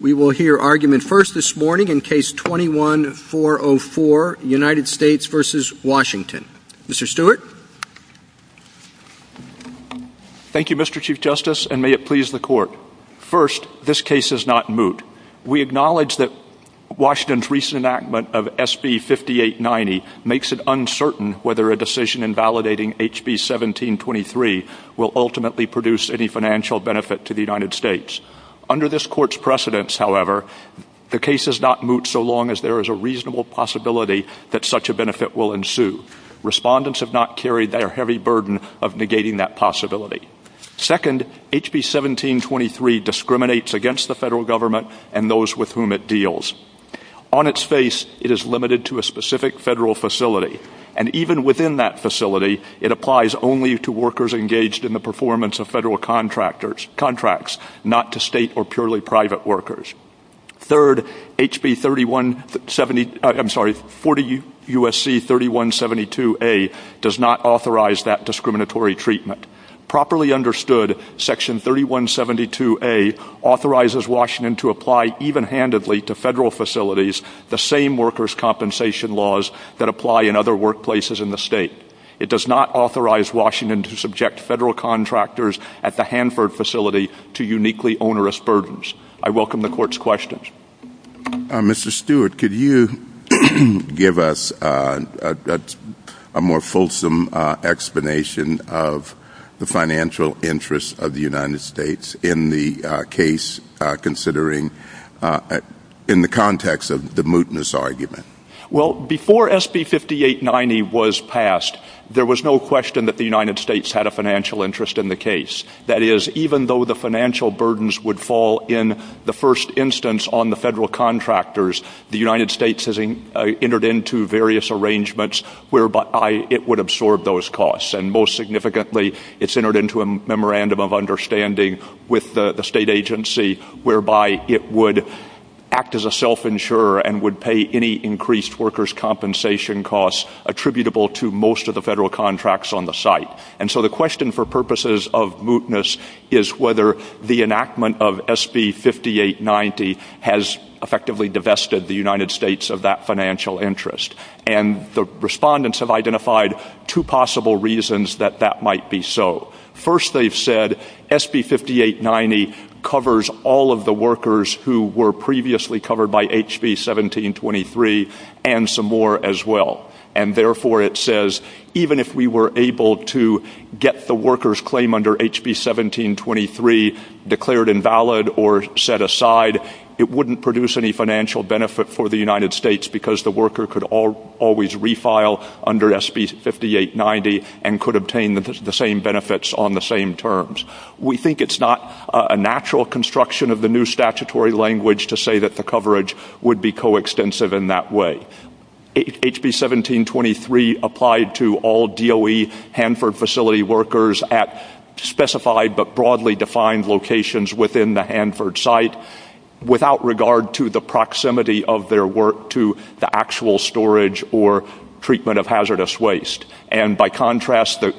We will hear argument first this morning in Case 21-404, United States v. Washington. Mr. Stewart. Thank you, Mr. Chief Justice, and may it please the Court. First, this case is not moot. We acknowledge that Washington's recent enactment of SB 5890 makes it uncertain whether a decision invalidating HB 1723 will ultimately produce any financial benefit to the United States. Under this Court's precedence, however, the case is not moot so long as there is a reasonable possibility that such a benefit will ensue. Respondents have not carried their heavy burden of negating that possibility. Second, HB 1723 discriminates against the federal government and those with whom it deals. On its face, it is limited to a specific federal facility, and even within that facility, it applies only to workers engaged in the performance of federal contracts, not to state or purely private workers. Third, HB 40 U.S.C. 3172a does not authorize that discriminatory treatment. Properly understood, Section 3172a authorizes Washington to apply even-handedly to federal facilities the same workers' compensation laws that apply in other workplaces in the state. It does not authorize Washington to subject federal contractors at the Hanford facility to uniquely onerous burdens. I welcome the Court's questions. Mr. Stewart, could you give us a more fulsome explanation of the financial interests of the United States in the case considering in the context of the mootness Well, before SB 5890 was passed, there was no question that the United States had a financial interest in the case. That is, even though the financial burdens would fall in the first instance on the federal contractors, the United States has entered into various arrangements whereby it would absorb those costs, and most significantly, it's entered into a memorandum of understanding with the state agency whereby it would act as a self-insurer and would pay any increased workers' compensation costs attributable to most of the federal contracts on the site. And so the question for purposes of mootness is whether the enactment of SB 5890 has effectively divested the United States of that financial interest. And the respondents have identified two possible reasons that that might be so. First, they've said SB 5890 covers all of the workers who were previously covered by HB 1723 and some more as well, and therefore it says even if we were able to get the workers' claim under HB 1723 declared invalid or set aside, it wouldn't produce any financial benefit for the United States because the worker could always refile under SB 5890 and could obtain the same benefits on the same terms. We think it's not a natural construction of the new statutory language to say that the coverage would be co-extensive in that way. HB 1723 applied to all DOE Hanford facility workers at specified but broadly defined locations within the Hanford site without regard to the proximity of their work to the actual storage or treatment of hazardous waste. And by contrast, the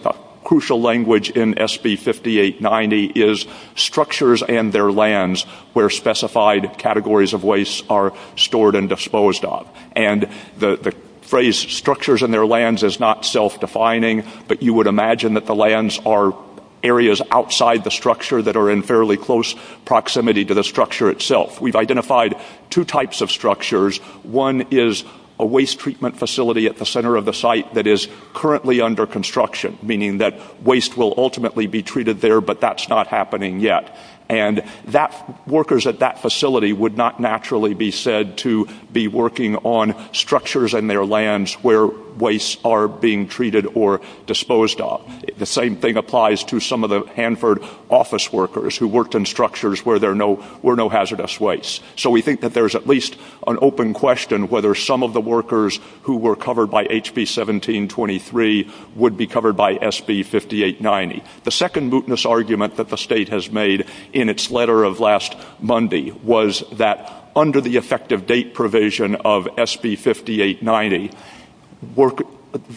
crucial language in SB 5890 is structures and their lands where specified categories of waste are stored and disposed of. And the phrase structures and their lands is not self-defining, but you would imagine that the lands are areas outside the structure that are in fairly close proximity to the structure itself. We've identified two types of structures. One is a waste treatment facility at the center of the site that is currently under construction, meaning that waste will ultimately be treated there, but that's not happening yet. And that workers at that facility would not naturally be said to be working on structures and their lands where wastes are being treated or disposed of. The same thing applies to some of the Hanford office workers who worked in structures where there were no hazardous wastes. So we think that there's at least an open question whether some of the workers who were covered by HB 1723 would be covered by SB 5890. The second mootness argument that the state has made in its letter of last Monday was that under the effective date provision of SB 5890,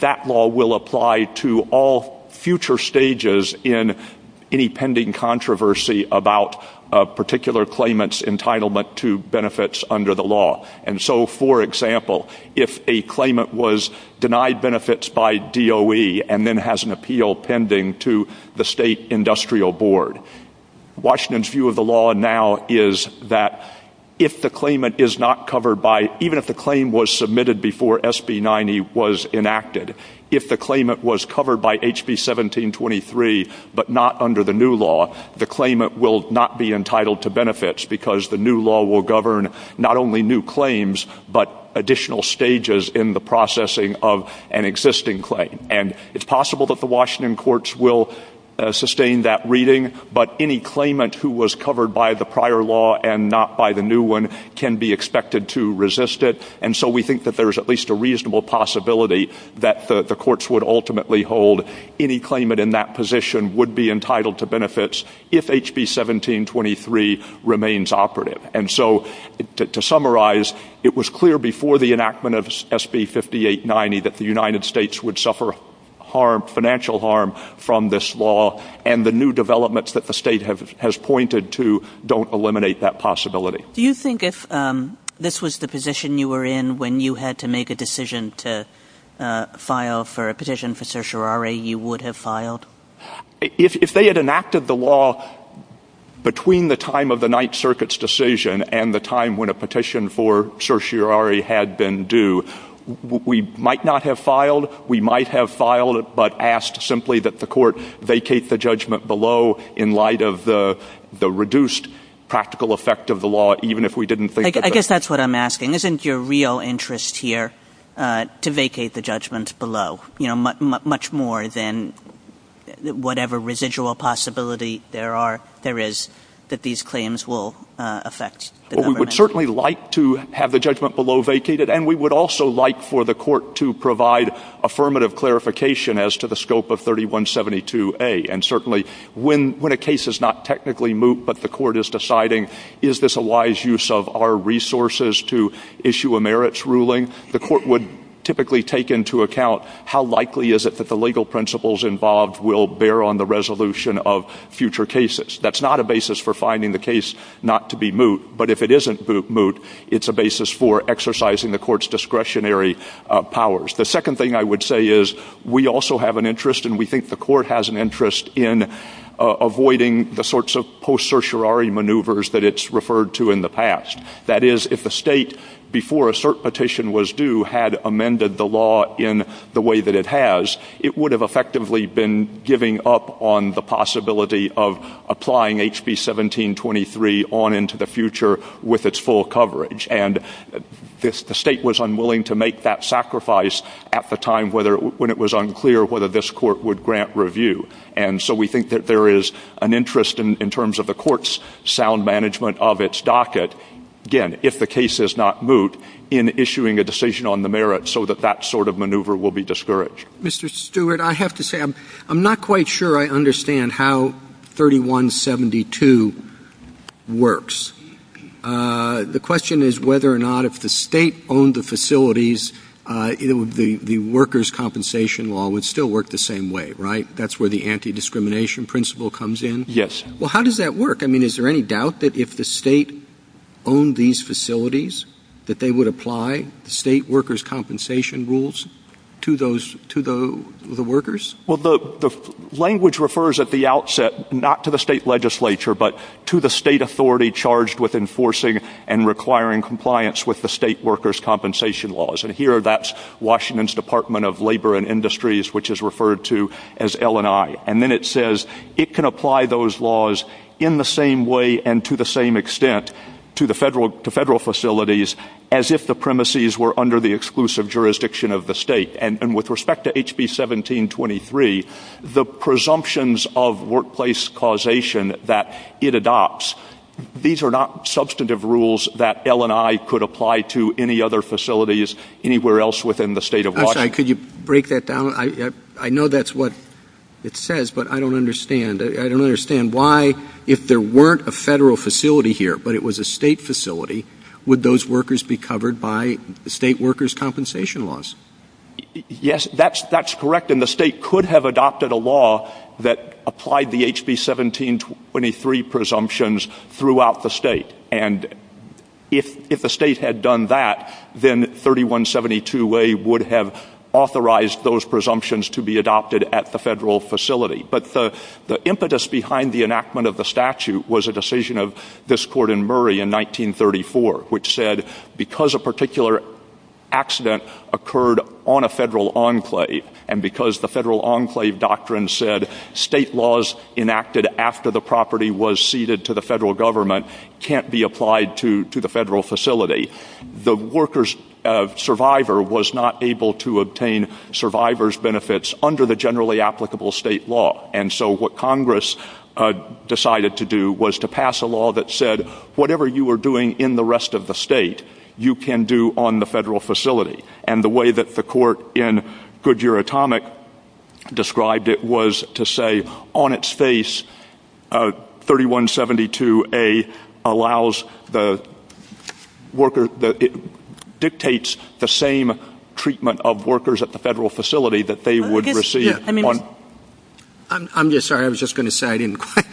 that law will apply to all future stages in any pending controversy about a particular claimant's entitlement to benefits under the law. And so, for example, if a claimant was DOE and then has an appeal pending to the state industrial board, Washington's view of the law now is that if the claimant is not covered by, even if the claim was submitted before SB 90 was enacted, if the claimant was covered by HB 1723 but not under the new law, the claimant will not be entitled to benefits because the new law will govern not only new claims but additional stages in the processing of an existing claim. And it's possible that the Washington courts will sustain that reading, but any claimant who was covered by the prior law and not by the new one can be expected to resist it. And so we think that there's at least a reasonable possibility that the courts would ultimately hold any claimant in that position would be entitled to benefits if HB 1723 remains operative. And so to summarize, it was clear before the enactment of SB 5890 that the United States would suffer harm, financial harm, from this law and the new developments that the state has pointed to don't eliminate that possibility. Do you think if this was the position you were in when you had to make a decision to file for a petition for certiorari, you would have filed? If they had enacted the law between the time of the Ninth Circuit's decision and the time when a petition for certiorari had been due, we might not have filed. We might have filed but asked simply that the court vacate the judgment below in light of the reduced practical effect of the law, even if we didn't think of it. I guess that's what I'm here to vacate the judgment below, you know, much more than whatever residual possibility there is that these claims will affect. We would certainly like to have the judgment below vacated and we would also like for the court to provide affirmative clarification as to the scope of 3172A and certainly when a case is not technically moot but the court is deciding is this a wise use of our resources to issue a merits ruling, the court would typically take into account how likely is it that the legal principles involved will bear on the resolution of future cases. That's not a basis for finding the case not to be moot, but if it isn't moot, it's a basis for exercising the court's discretionary powers. The second thing I would say is we also have an interest and we think the court has an interest in avoiding the sorts of post-certiorari maneuvers that it's that is if the state before a cert petition was due had amended the law in the way that it has, it would have effectively been giving up on the possibility of applying HB 1723 on into the future with its full coverage and this the state was unwilling to make that sacrifice at the time whether when it was unclear whether this court would grant review and so we think that there is an interest in terms of the court's sound management of its docket, again, if the case is not moot, in issuing a decision on the merits so that that sort of maneuver will be discouraged. Mr. Stewart, I have to say I'm not quite sure I understand how 3172 works. The question is whether or not if the state owned the facilities, the workers' compensation law would still work the same way, right? That's where the anti-discrimination principle comes in? Yes. Well, how does that work? I mean, is there any doubt that if the state owned these facilities that they would apply the state workers' compensation rules to those to the workers? Well, the language refers at the outset not to the state legislature but to the state authority charged with enforcing and requiring compliance with the state workers' compensation laws and here that's Washington's Department of Labor and Industries which is referred to as L&I and then it says it can apply those laws in the same way and to the same extent to the federal facilities as if the premises were under the exclusive jurisdiction of the state and with respect to HB 1723, the presumptions of workplace causation that it adopts, these are not substantive rules that L&I could apply to any other facilities anywhere else within the state of Washington. I'm sorry, could you break that down? I know that's what it says but I don't understand. I don't understand why if there weren't a federal facility here but it was a state facility, would those workers be covered by the state workers' compensation laws? Yes, that's correct and the state could have adopted a law that applied the HB 1723 presumptions throughout the state and if the state had done that, then 3172A would have authorized those presumptions to be adopted at the federal facility but the impetus behind the enactment of the statute was a decision of this court in Murray in 1934 which said because a particular accident occurred on a federal enclave and because the federal enclave doctrine said state laws enacted after the property was ceded to the federal government can't be applied to the federal facility, the worker's survivor was not able to obtain survivor's benefits under the generally applicable state law and so what Congress decided to do was to pass a law that said whatever you were doing in the rest of the state, you can do on the federal facility and the way that the court in Goodyear Atomic described it was to say on its face, 3172A allows the worker, dictates the same treatment of workers at the federal facility that they would receive. I'm just sorry, I was just going to say I didn't quite,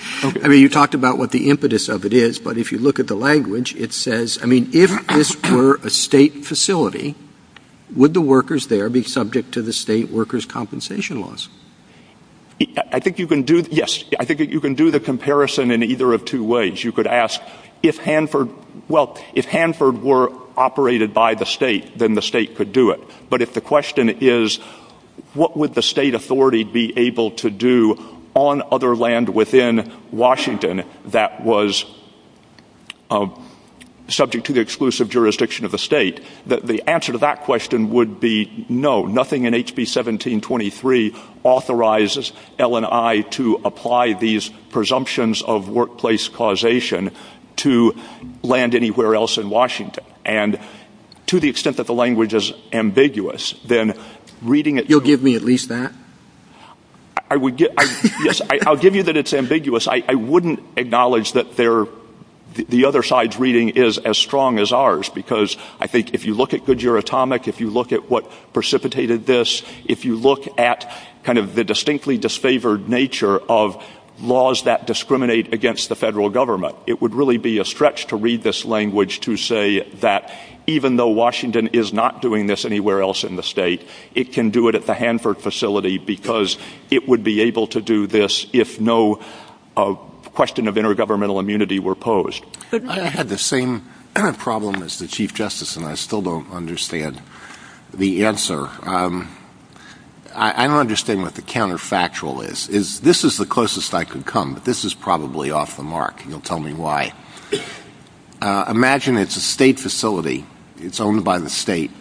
I mean you talked about what the impetus of it is but if you look at the language, it says, I mean if this were a state facility, would the workers there be subject to the state workers' compensation laws? I think you can do, yes, I think you can do the comparison in either of two ways. You could ask if Hanford, well, if Hanford were operated by the state, then the state could do it but if the question is what would the state authority be able to do on other land within Washington that was subject to the exclusive jurisdiction of the state, the answer to that question would be no, nothing in HB 1723 authorizes L&I to apply these presumptions of workplace causation to land anywhere else in Washington and to the extent that the language is ambiguous, then reading it. You'll give me at least that? I would give, yes, I'll give you that it's the other side's reading is as strong as ours because I think if you look at Goodyear Atomic, if you look at what precipitated this, if you look at kind of the distinctly disfavored nature of laws that discriminate against the federal government, it would really be a stretch to read this language to say that even though Washington is not doing this anywhere else in the state, it can do it at the Hanford facility because it would be able to do this if no question of intergovernmental immunity were posed. I had the same problem as the Chief Justice and I still don't understand the answer. I don't understand what the counterfactual is. This is the closest I could come but this is probably off the mark. You'll tell me why. Imagine it's a state facility, it's owned by the state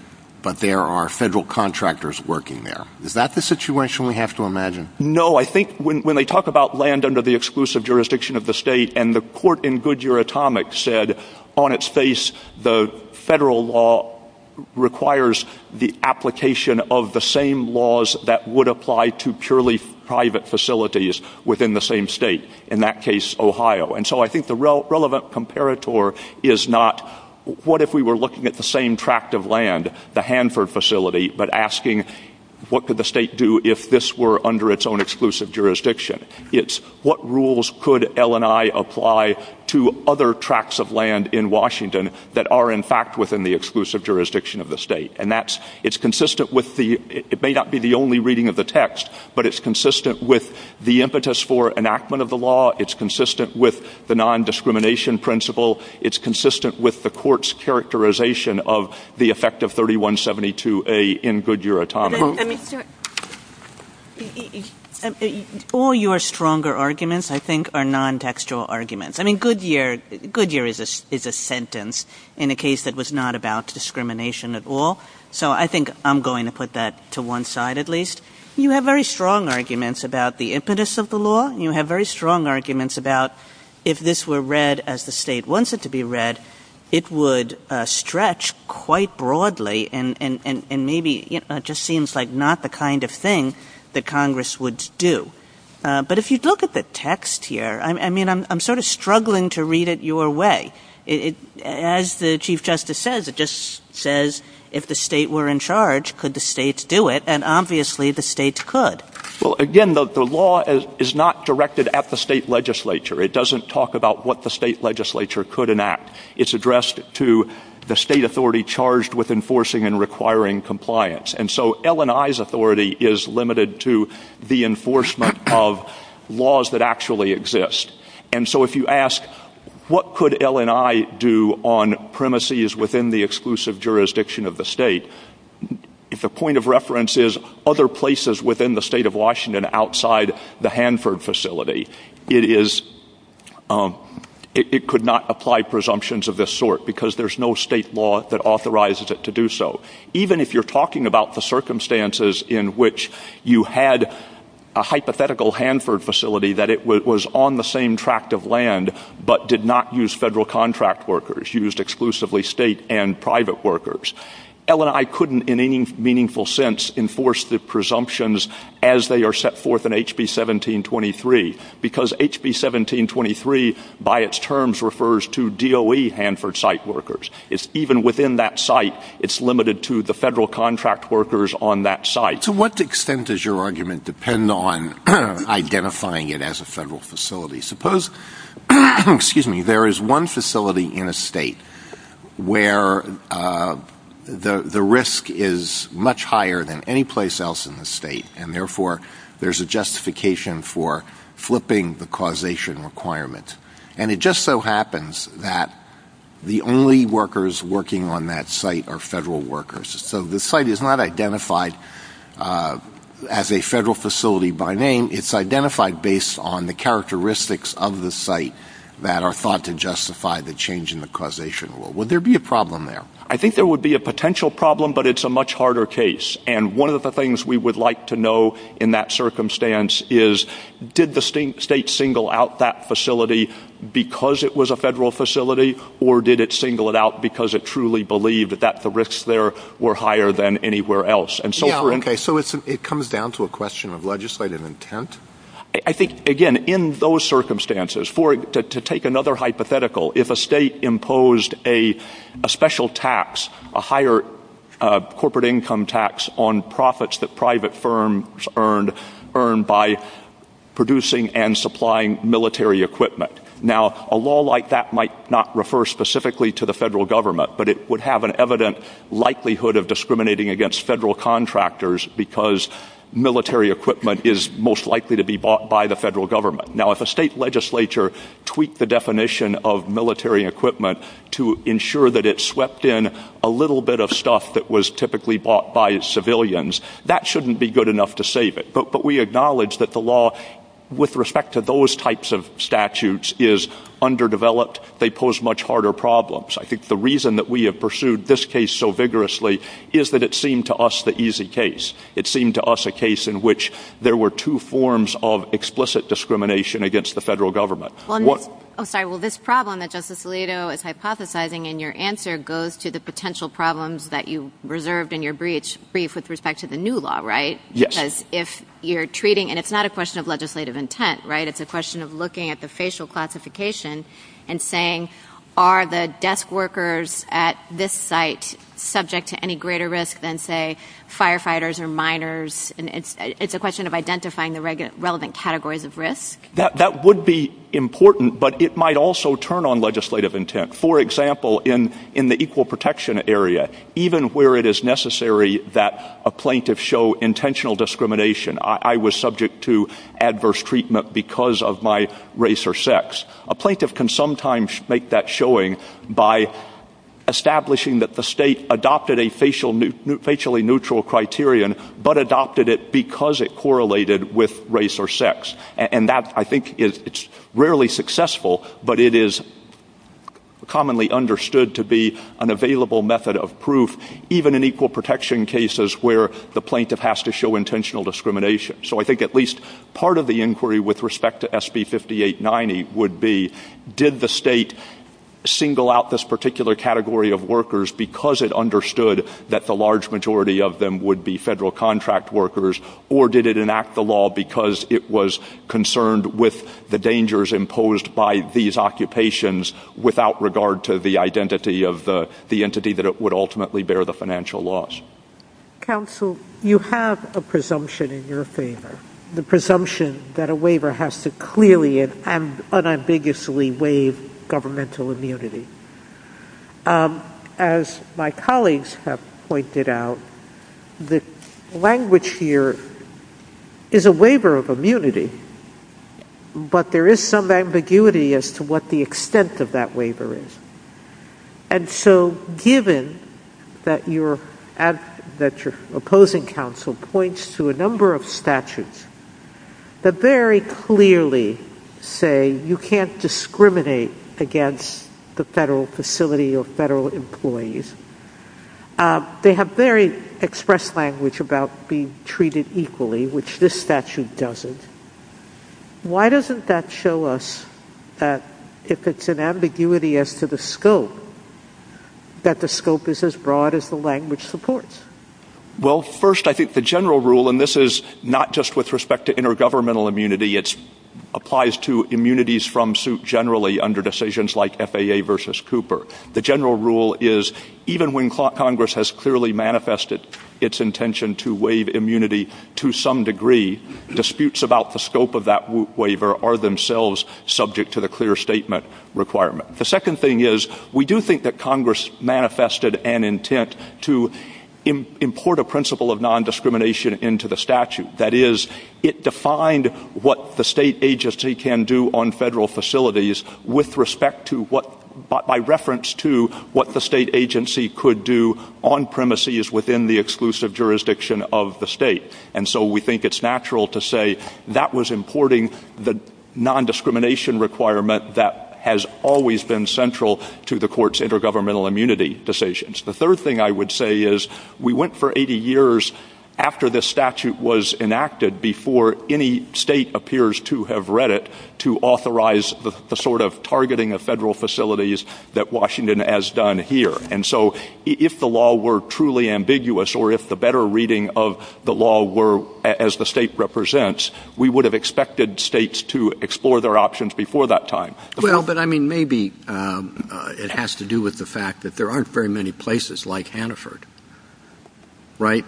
but there are federal contractors working there. Is that the situation we have to imagine? No, I think when they talk about land under the exclusive jurisdiction of the state and the court in Goodyear Atomic said on its face the federal law requires the application of the same laws that would apply to purely private facilities within the same state, in that case Ohio. And so I think the relevant comparator is not what if we were looking at the same tract of land, the Hanford facility, but asking what the state could do if this were under its own exclusive jurisdiction. It's what rules could LNI apply to other tracts of land in Washington that are in fact within the exclusive jurisdiction of the state. It may not be the only reading of the text but it's consistent with the impetus for enactment of the law, it's consistent with the non-discrimination principle, it's consistent with the court's characterization of the effect of 3172A in Goodyear Atomic. All your stronger arguments, I think, are non-textual arguments. I mean, Goodyear is a sentence in a case that was not about discrimination at all, so I think I'm going to put that to one side at least. You have very strong arguments about the impetus of the law, you have very strong arguments about if this were read as the state wants it to be read, it would stretch quite broadly and maybe it just seems like not the kind of thing that Congress would do. But if you look at the text here, I mean, I'm sort of struggling to read it your way. As the Chief Justice says, it just says, if the state were in charge, could the states do it? And obviously the states could. Well, again, the law is not directed at the state legislature. It doesn't talk about what state legislature could enact. It's addressed to the state authority charged with enforcing and requiring compliance. And so LNI's authority is limited to the enforcement of laws that actually exist. And so if you ask what could LNI do on premises within the exclusive jurisdiction of the state, if the point of reference is other places within the state of Washington outside the Hanford facility, it is, it could not apply presumptions of this sort because there's no state law that authorizes it to do so. Even if you're talking about the circumstances in which you had a hypothetical Hanford facility that it was on the same tract of land but did not use federal contract workers, used exclusively state and private workers, LNI couldn't in any meaningful sense enforce the presumptions as they are set forth in HB 1723. Because HB 1723, by its terms, refers to DOE Hanford site workers. It's even within that site, it's limited to the federal contract workers on that site. So what extent does your argument depend on identifying it as a federal facility? Suppose, excuse me, there is one facility in a state where the risk is much higher than any place else in the state, and therefore there's a justification for flipping the causation requirement. And it just so happens that the only workers working on that site are federal workers. So the site is not identified as a federal facility by name. It's identified based on the characteristics of the site that are thought to justify the change in the causation rule. Would there be a problem there? I think there would be a potential problem, but it's a much harder case. And one of the things we would like to know in that circumstance is, did the state single out that facility because it was a federal facility, or did it single it out because it truly believed that the risks there were higher than anywhere else? Yeah, okay, so it comes down to a question of to take another hypothetical. If a state imposed a special tax, a higher corporate income tax on profits that private firms earned by producing and supplying military equipment. Now, a law like that might not refer specifically to the federal government, but it would have an evident likelihood of discriminating against federal contractors because military equipment is most likely to be bought by the federal government. Now, if a state legislature tweaked the definition of military equipment to ensure that it swept in a little bit of stuff that was typically bought by civilians, that shouldn't be good enough to save it. But we acknowledge that the law with respect to those types of statutes is underdeveloped. They pose much harder problems. I think the reason that we have pursued this case so vigorously is that it forms of explicit discrimination against the federal government. I'm sorry. Well, this problem that Justice Alito is hypothesizing in your answer goes to the potential problems that you reserved in your brief with respect to the new law, right? Yes. Because if you're treating, and it's not a question of legislative intent, right? It's a question of looking at the facial classification and saying, are the desk workers at this site subject to any greater risk than, say, firefighters or miners? It's a question of identifying the relevant categories of risk. That would be important, but it might also turn on legislative intent. For example, in the equal protection area, even where it is necessary that a plaintiff show intentional discrimination, I was subject to adverse treatment because of my A plaintiff can sometimes make that showing by establishing that the state adopted a facially neutral criterion but adopted it because it correlated with race or sex. I think it's rarely successful, but it is commonly understood to be an available method of proof, even in equal protection cases where the plaintiff has to show intentional discrimination. So I think part of the inquiry with respect to SB 5890 would be, did the state single out this particular category of workers because it understood that the large majority of them would be federal contract workers, or did it enact the law because it was concerned with the dangers imposed by these occupations without regard to the identity of the entity that it would ultimately bear the presumption that a waiver has to clearly and unambiguously waive governmental immunity? As my colleagues have pointed out, the language here is a waiver of immunity, but there is some ambiguity as to what the extent of that waiver is. And so given that your opposing counsel points to a number of statutes that very clearly say you can't discriminate against the federal facility or federal employees, they have very expressed language about being treated equally, which this statute doesn't. Why doesn't that show us that if it's an ambiguity as to the scope, that the scope is as broad as the language supports? Well, first, I think the general rule, and this is not just with respect to intergovernmental immunity, it applies to immunities from suit generally under decisions like FAA versus Cooper. The general rule is, even when Congress has clearly manifested its intention to waive immunity to some degree, disputes about the scope of that waiver are themselves subject to the clear statement requirement. The second thing is, we do think that Congress manifested an intent to import a principle of nondiscrimination into the statute. That is, it defined what the state agency can do on federal facilities with respect to what, by reference to what the state agency could do on premises within the exclusive jurisdiction of the state. And so we think it's natural to say that was importing the nondiscrimination requirement that has always been central to the court's intergovernmental immunity decisions. The third thing I would say is, we went for 80 years after this statute was enacted, before any state appears to have read it, to authorize the sort of targeting of federal facilities that Washington has done here. And so if the law were truly ambiguous, or if the better reading of the law were as the state represents, we would have expected states to explore their options before that time. Well, but I mean, maybe it has to do with the fact that there aren't very many places like Hannaford, right,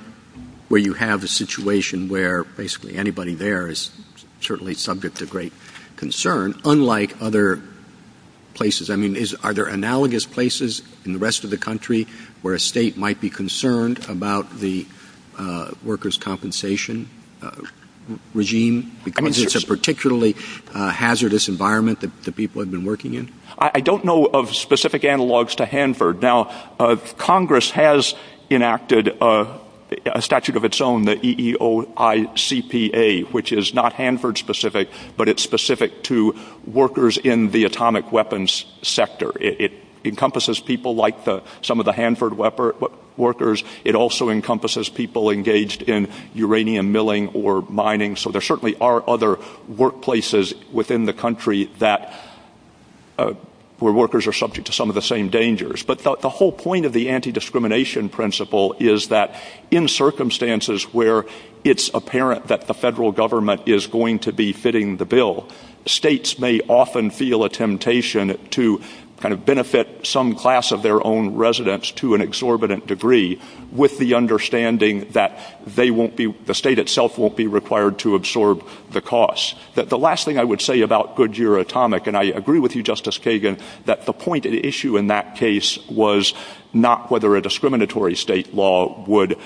where you have a situation where basically anybody there is subject to great concern, unlike other places. I mean, are there analogous places in the rest of the country where a state might be concerned about the workers' compensation regime, because it's a particularly hazardous environment that people have been working in? I don't know of specific analogs to Hanford. Now, Congress has enacted a statute of its own, the EEOICPA, which is not Hanford-specific, but it's specific to workers in the atomic weapons sector. It encompasses people like some of the Hanford workers. It also encompasses people engaged in uranium milling or mining. So there certainly are other workplaces within the country where workers are subject to some of the same dangers. But the whole point of the it's apparent that the federal government is going to be fitting the bill. States may often feel a temptation to kind of benefit some class of their own residents to an exorbitant degree with the understanding that they won't be, the state itself won't be required to absorb the costs. The last thing I would say about Goodyear Atomic, and I agree with you, Justice Kagan, that the point at issue in that case was not whether a discriminatory state law would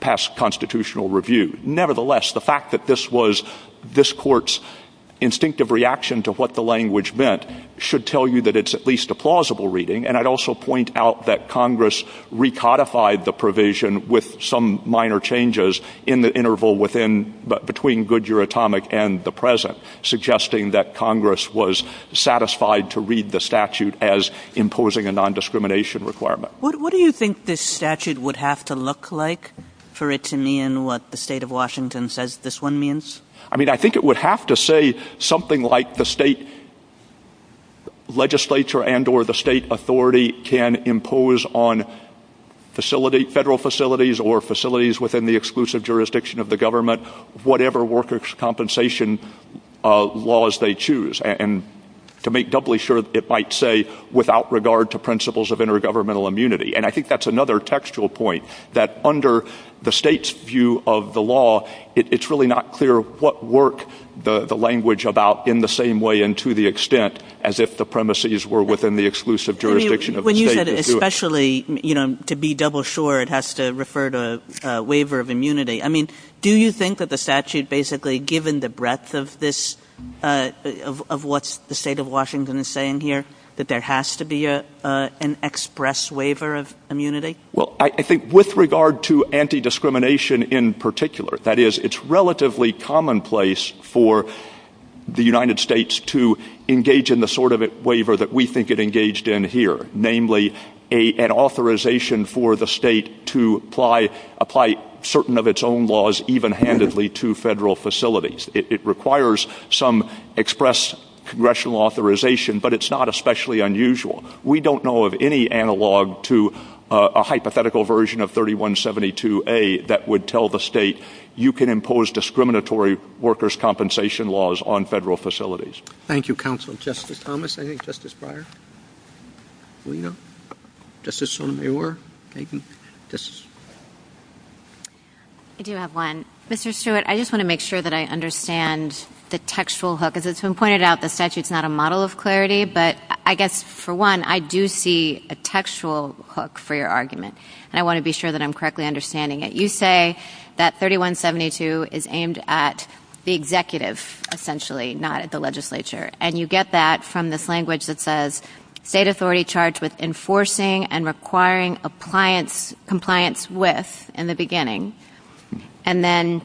pass constitutional review. Nevertheless, the fact that this was this court's instinctive reaction to what the language meant should tell you that it's at least a plausible reading. And I'd also point out that Congress recodified the provision with some minor changes in the interval within, between Goodyear Atomic and the present, suggesting that Congress was satisfied to read the statute as imposing a nondiscrimination requirement. What do you think this statute would have to look like for it to mean what the state of Washington says this one means? I mean, I think it would have to say something like the state legislature and or the state authority can impose on facility, federal facilities or facilities within the exclusive jurisdiction of the government, whatever workers' compensation laws they choose. And to make doubly sure it might say without regard to principles of intergovernmental immunity. And I think that's another textual point that under the state's view of the law, it's really not clear what work the language about in the same way and to the extent as if the premises were within the exclusive jurisdiction of the state. When you said especially, you know, to be double sure it has to refer to a waiver of immunity. I mean, do you think that the statute basically given the breadth of this, of what's the state of Washington is saying here, that there has to be an express waiver of immunity? Well, I think with regard to anti-discrimination in particular, that is, it's relatively commonplace for the United States to engage in the sort of waiver that we think it engaged in here, namely an authorization for the state to apply certain of its own laws even handedly to federal facilities. It requires some express congressional authorization, but it's not especially unusual. We don't know of any analog to a hypothetical version of 3172A that would tell the state you can impose discriminatory workers' compensation laws on federal facilities. Thank you, counsel. Justice Thomas, I think. Justice Breyer. Felina. Justice Sotomayor. I do have one. Mr. Stewart, I just want to make sure that I understand the textual hook. As it's been pointed out, the statute's not a model of clarity, but I guess for one, I do see a textual hook for your argument, and I want to be sure that I'm correctly understanding it. You say that 3172 is aimed at the executive essentially, not at the legislature, and you get that from this language that says, state authority charged with enforcing and requiring compliance with, in the beginning, and then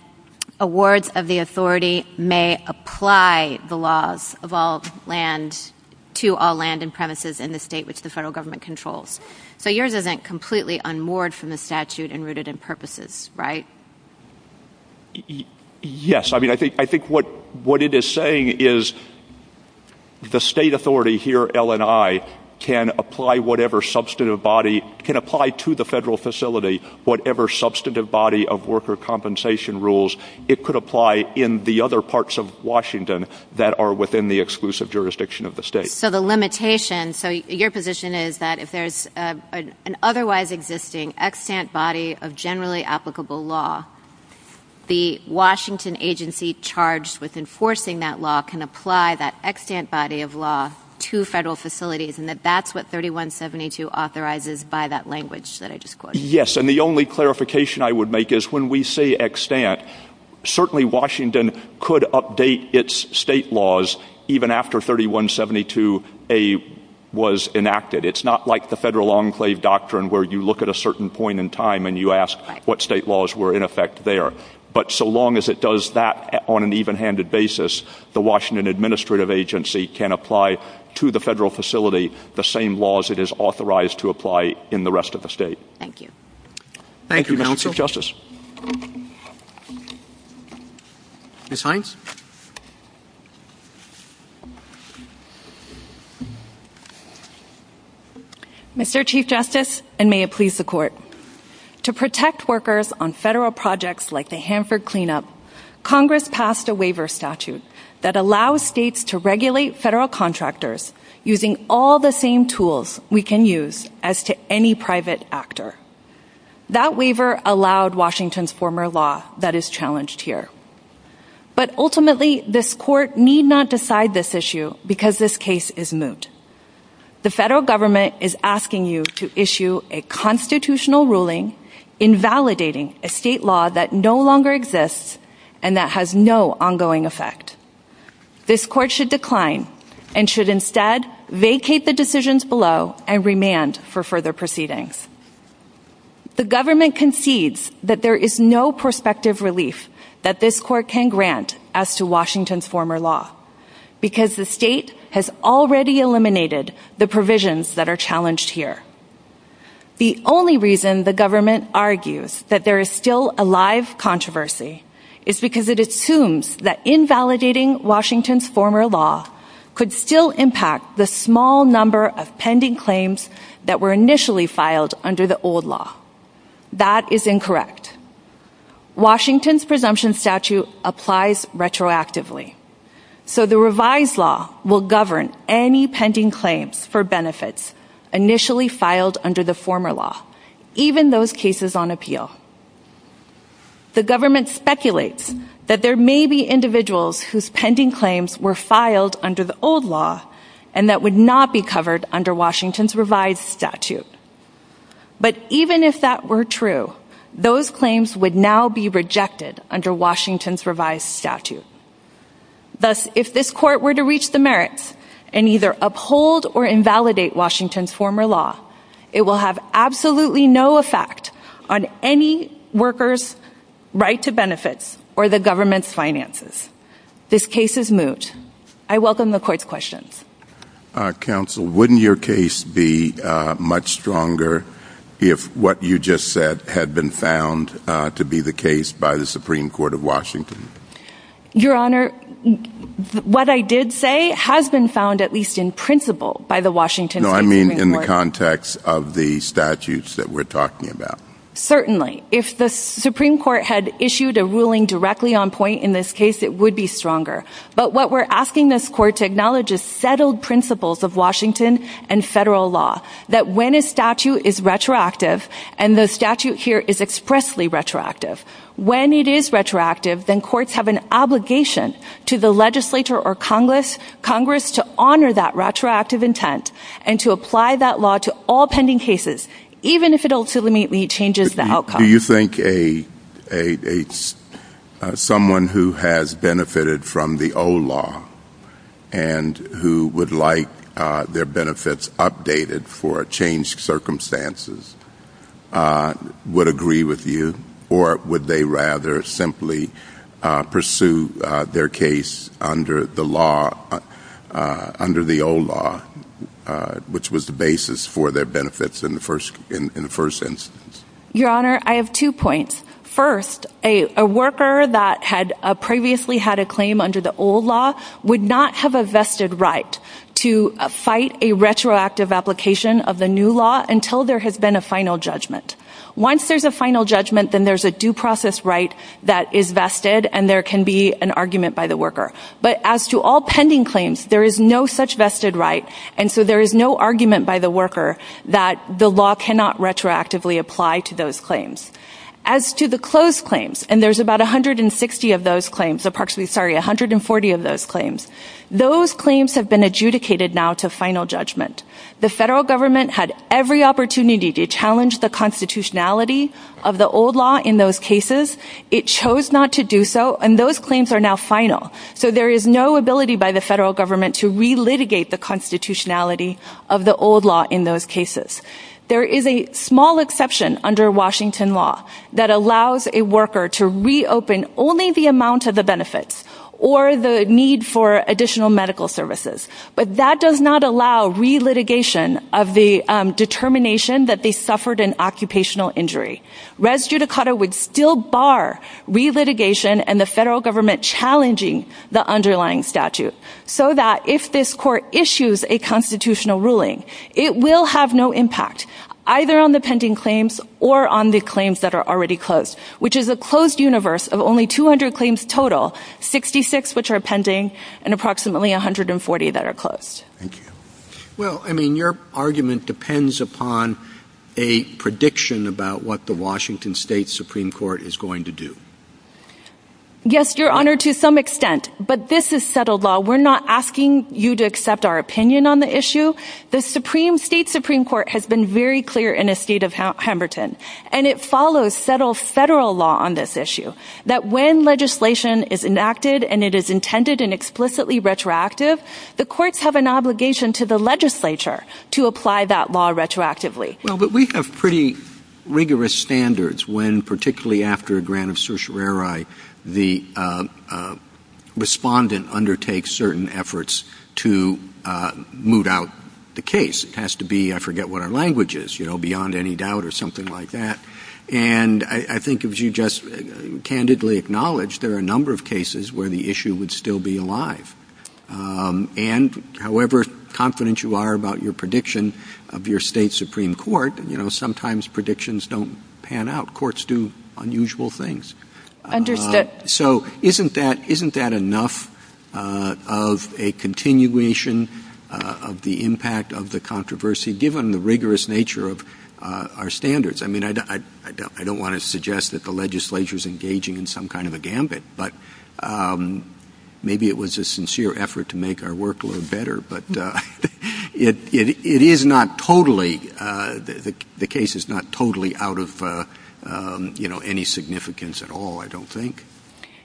awards of the authority may apply the laws of all land to all land and premises in the state which the federal government controls. So yours isn't completely unmoored from the statute and rooted in purposes, right? Yes. I mean, I think what it is saying is the state authority here, LNI, can apply to the federal facility whatever substantive body of worker compensation rules it could apply in the other parts of Washington that are within the exclusive jurisdiction of the state. So the limitation, so your position is that if there's an otherwise existing extant body of generally applicable law, the Washington agency charged with enforcing that law can apply that extant body of law to federal facilities, and that that's what 3172 authorizes by that language that I just quoted. Yes, and the only clarification I would make is when we say extant, certainly Washington could update its state laws even after 3172A was enacted. It's not like the federal enclave doctrine where you look at a certain point in time and you ask what state laws were in effect there. But so long as it does that on an even-handed basis, the Washington administrative agency can apply to the federal facility the same laws it is authorized to apply in the rest of the state. Thank you. Thank you, Mr. Chief Justice. Ms. Hines. Mr. Chief Justice, and may it please the court. To protect workers on federal projects like the that allow states to regulate federal contractors using all the same tools we can use as to any private actor. That waiver allowed Washington's former law that is challenged here. But ultimately this court need not decide this issue because this case is moot. The federal government is asking you to issue a constitutional ruling invalidating a state law that no longer exists and that has no ongoing effect. This court should decline and should instead vacate the decisions below and remand for further proceedings. The government concedes that there is no prospective relief that this court can grant as to Washington's former law. Because the state has already eliminated the provisions that are challenged here. The only reason the government argues that there is still a live controversy is because it assumes that invalidating Washington's former law could still impact the small number of pending claims that were initially filed under the old law. That is incorrect. Washington's presumption statute applies retroactively. So the revised law will govern any pending claims for benefits initially filed under the former law, even those cases on appeal. The government speculates that there may be individuals whose pending claims were filed under the old law and that would not be covered under Washington's revised statute. But even if that were true, those claims would now be rejected under Washington's revised statute. Thus if this court were to reach the merits and either uphold or invalidate Washington's law, it will have absolutely no effect on any worker's right to benefits or the government's finances. This case is moot. I welcome the court's questions. Counsel, wouldn't your case be much stronger if what you just said had been found to be the case by the Supreme Court of Washington? Your Honor, what I did say has been found at least in principle by the Washington. No, I mean in the context of the statutes that we're talking about. Certainly, if the Supreme Court had issued a ruling directly on point in this case, it would be stronger. But what we're asking this court to acknowledge is settled principles of Washington and federal law that when a statute is retroactive and the statute here is expressly retroactive, when it is retroactive, then courts have an obligation to the legislature or Congress to honor that retroactive intent and to apply that law to all pending cases, even if it ultimately changes the outcome. Do you think someone who has benefited from the old law and who would like their benefits updated for changed circumstances would agree with you, or would they rather simply pursue their case under the old law, which was the basis for their benefits in the first instance? Your Honor, I have two points. First, a worker that had previously had a claim under the old law would not have a vested right to fight a retroactive application of the new law until there has been a final judgment. Once there's a final judgment, then there's a due process right that is vested, and there can be an argument by the worker. But as to all pending claims, there is no such vested right, and so there is no argument by the worker that the law cannot retroactively apply to those claims. As to the closed claims, and there's about 160 of those claims, approximately, sorry, 140 of those claims, those claims have been adjudicated now to final judgment. The federal government had every opportunity to challenge the constitutionality of the old law in those cases. It chose not to do so, and those claims are now final. So there is no ability by the federal government to re-litigate the constitutionality of the old law in those cases. There is a small exception under Washington law that allows a worker to reopen only the amount of the benefits, or the need for additional medical services, but that does not allow re-litigation of the determination that they suffered an occupational injury. Res judicata would still bar re-litigation and the federal government challenging the underlying statute, so that if this court issues a constitutional ruling, it will have no impact, either on the pending claims or on the claims that are already closed, which is a closed universe of only 200 claims total, 66 which are pending, and approximately 140 that are closed. Thank you. Well, I mean, your argument depends upon a prediction about what the Washington State Supreme Court is going to do. Yes, Your Honor, to some extent, but this is settled law. We're not asking you to accept our opinion on the issue. The Supreme State Supreme Court has been very clear in the state of Washington that if a legislation is enacted and it is intended and explicitly retroactive, the courts have an obligation to the legislature to apply that law retroactively. Well, but we have pretty rigorous standards when, particularly after a grant of certiorari, the respondent undertakes certain efforts to moot out the case. It has to be, I forget what our language is, you know, beyond any doubt or something like that, and I think if you just acknowledge there are a number of cases where the issue would still be alive. And however confident you are about your prediction of your state Supreme Court, you know, sometimes predictions don't pan out. Courts do unusual things. Understood. So isn't that enough of a continuation of the impact of the controversy, given the rigorous in some kind of a gambit? But maybe it was a sincere effort to make our work a little better, but it is not totally, the case is not totally out of, you know, any significance at all, I don't think.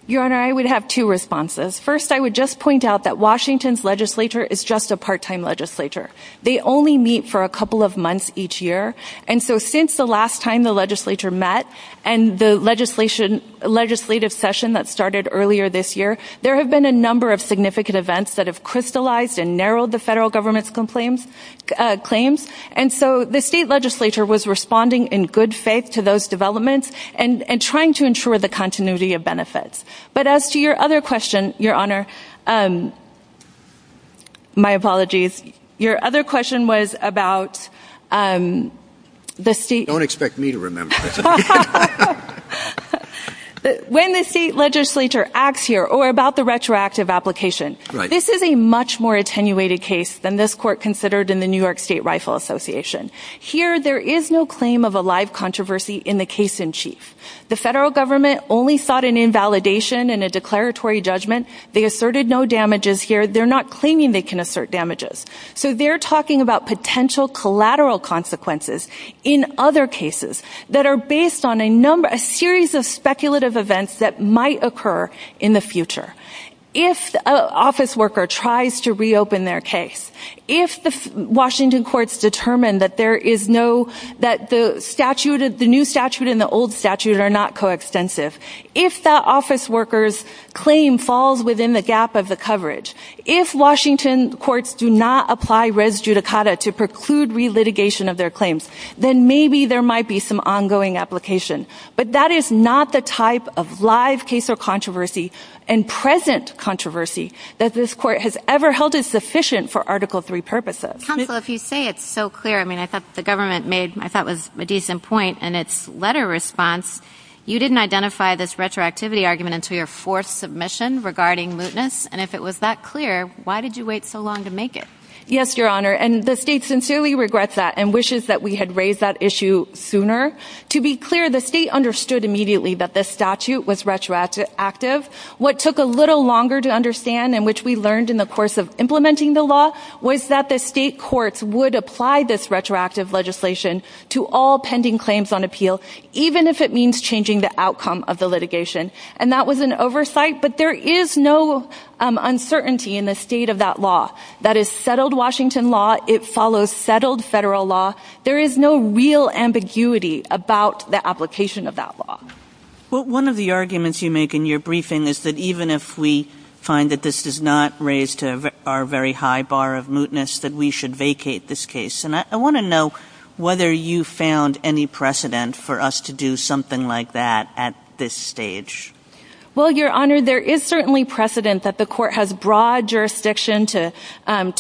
Your Honor, I would have two responses. First, I would just point out that Washington's legislature is just a part-time legislature. They only meet for a couple of months each year, and so since the last time the legislature met and the legislative session that started earlier this year, there have been a number of significant events that have crystallized and narrowed the federal government's claims, and so the state legislature was responding in good faith to those developments and trying to ensure the continuity of benefits. But as to your other question, Your Honor, um, my apologies. Your other question was about, um, the state... Don't expect me to remember. When the state legislature acts here, or about the retroactive application, this is a much more attenuated case than this court considered in the New York State Rifle Association. Here, there is no claim of a live controversy in the case in chief. The federal government only sought an invalidation and a declaratory judgment. They asserted no damages here. They're not claiming they can assert damages. So they're talking about potential collateral consequences in other cases that are based on a number, a series of speculative events that might occur in the future. If an office worker tries to reopen their case, if the Washington courts determine that there is no, that the statute, the new statute and the old statute are not coextensive, if that office worker's claim falls within the gap of the coverage, if Washington courts do not apply res judicata to preclude relitigation of their claims, then maybe there might be some ongoing application. But that is not the type of live case or controversy and present controversy that this court has ever held as sufficient for Article III purposes. Counsel, if you say it's so clear, I mean, I thought the government made, I thought was a decent point in its letter response. You didn't identify this retroactivity argument until your fourth submission regarding mootness. And if it was that clear, why did you wait so long to make it? Yes, your honor. And the state sincerely regrets that and wishes that we had raised that issue sooner. To be clear, the state understood immediately that this statute was retroactive. What took a little longer to understand and which we learned in the course of implementing the law was that the state courts would apply this retroactive legislation to all pending claims on appeal, even if it means changing the outcome of the litigation. And that was an oversight. But there is no uncertainty in the state of that law. That is settled Washington law. It follows settled federal law. There is no real ambiguity about the application of that law. Well, one of the arguments you make in your briefing is that even if we did not raise to our very high bar of mootness, that we should vacate this case. And I want to know whether you found any precedent for us to do something like that at this stage. Well, your honor, there is certainly precedent that the court has broad jurisdiction to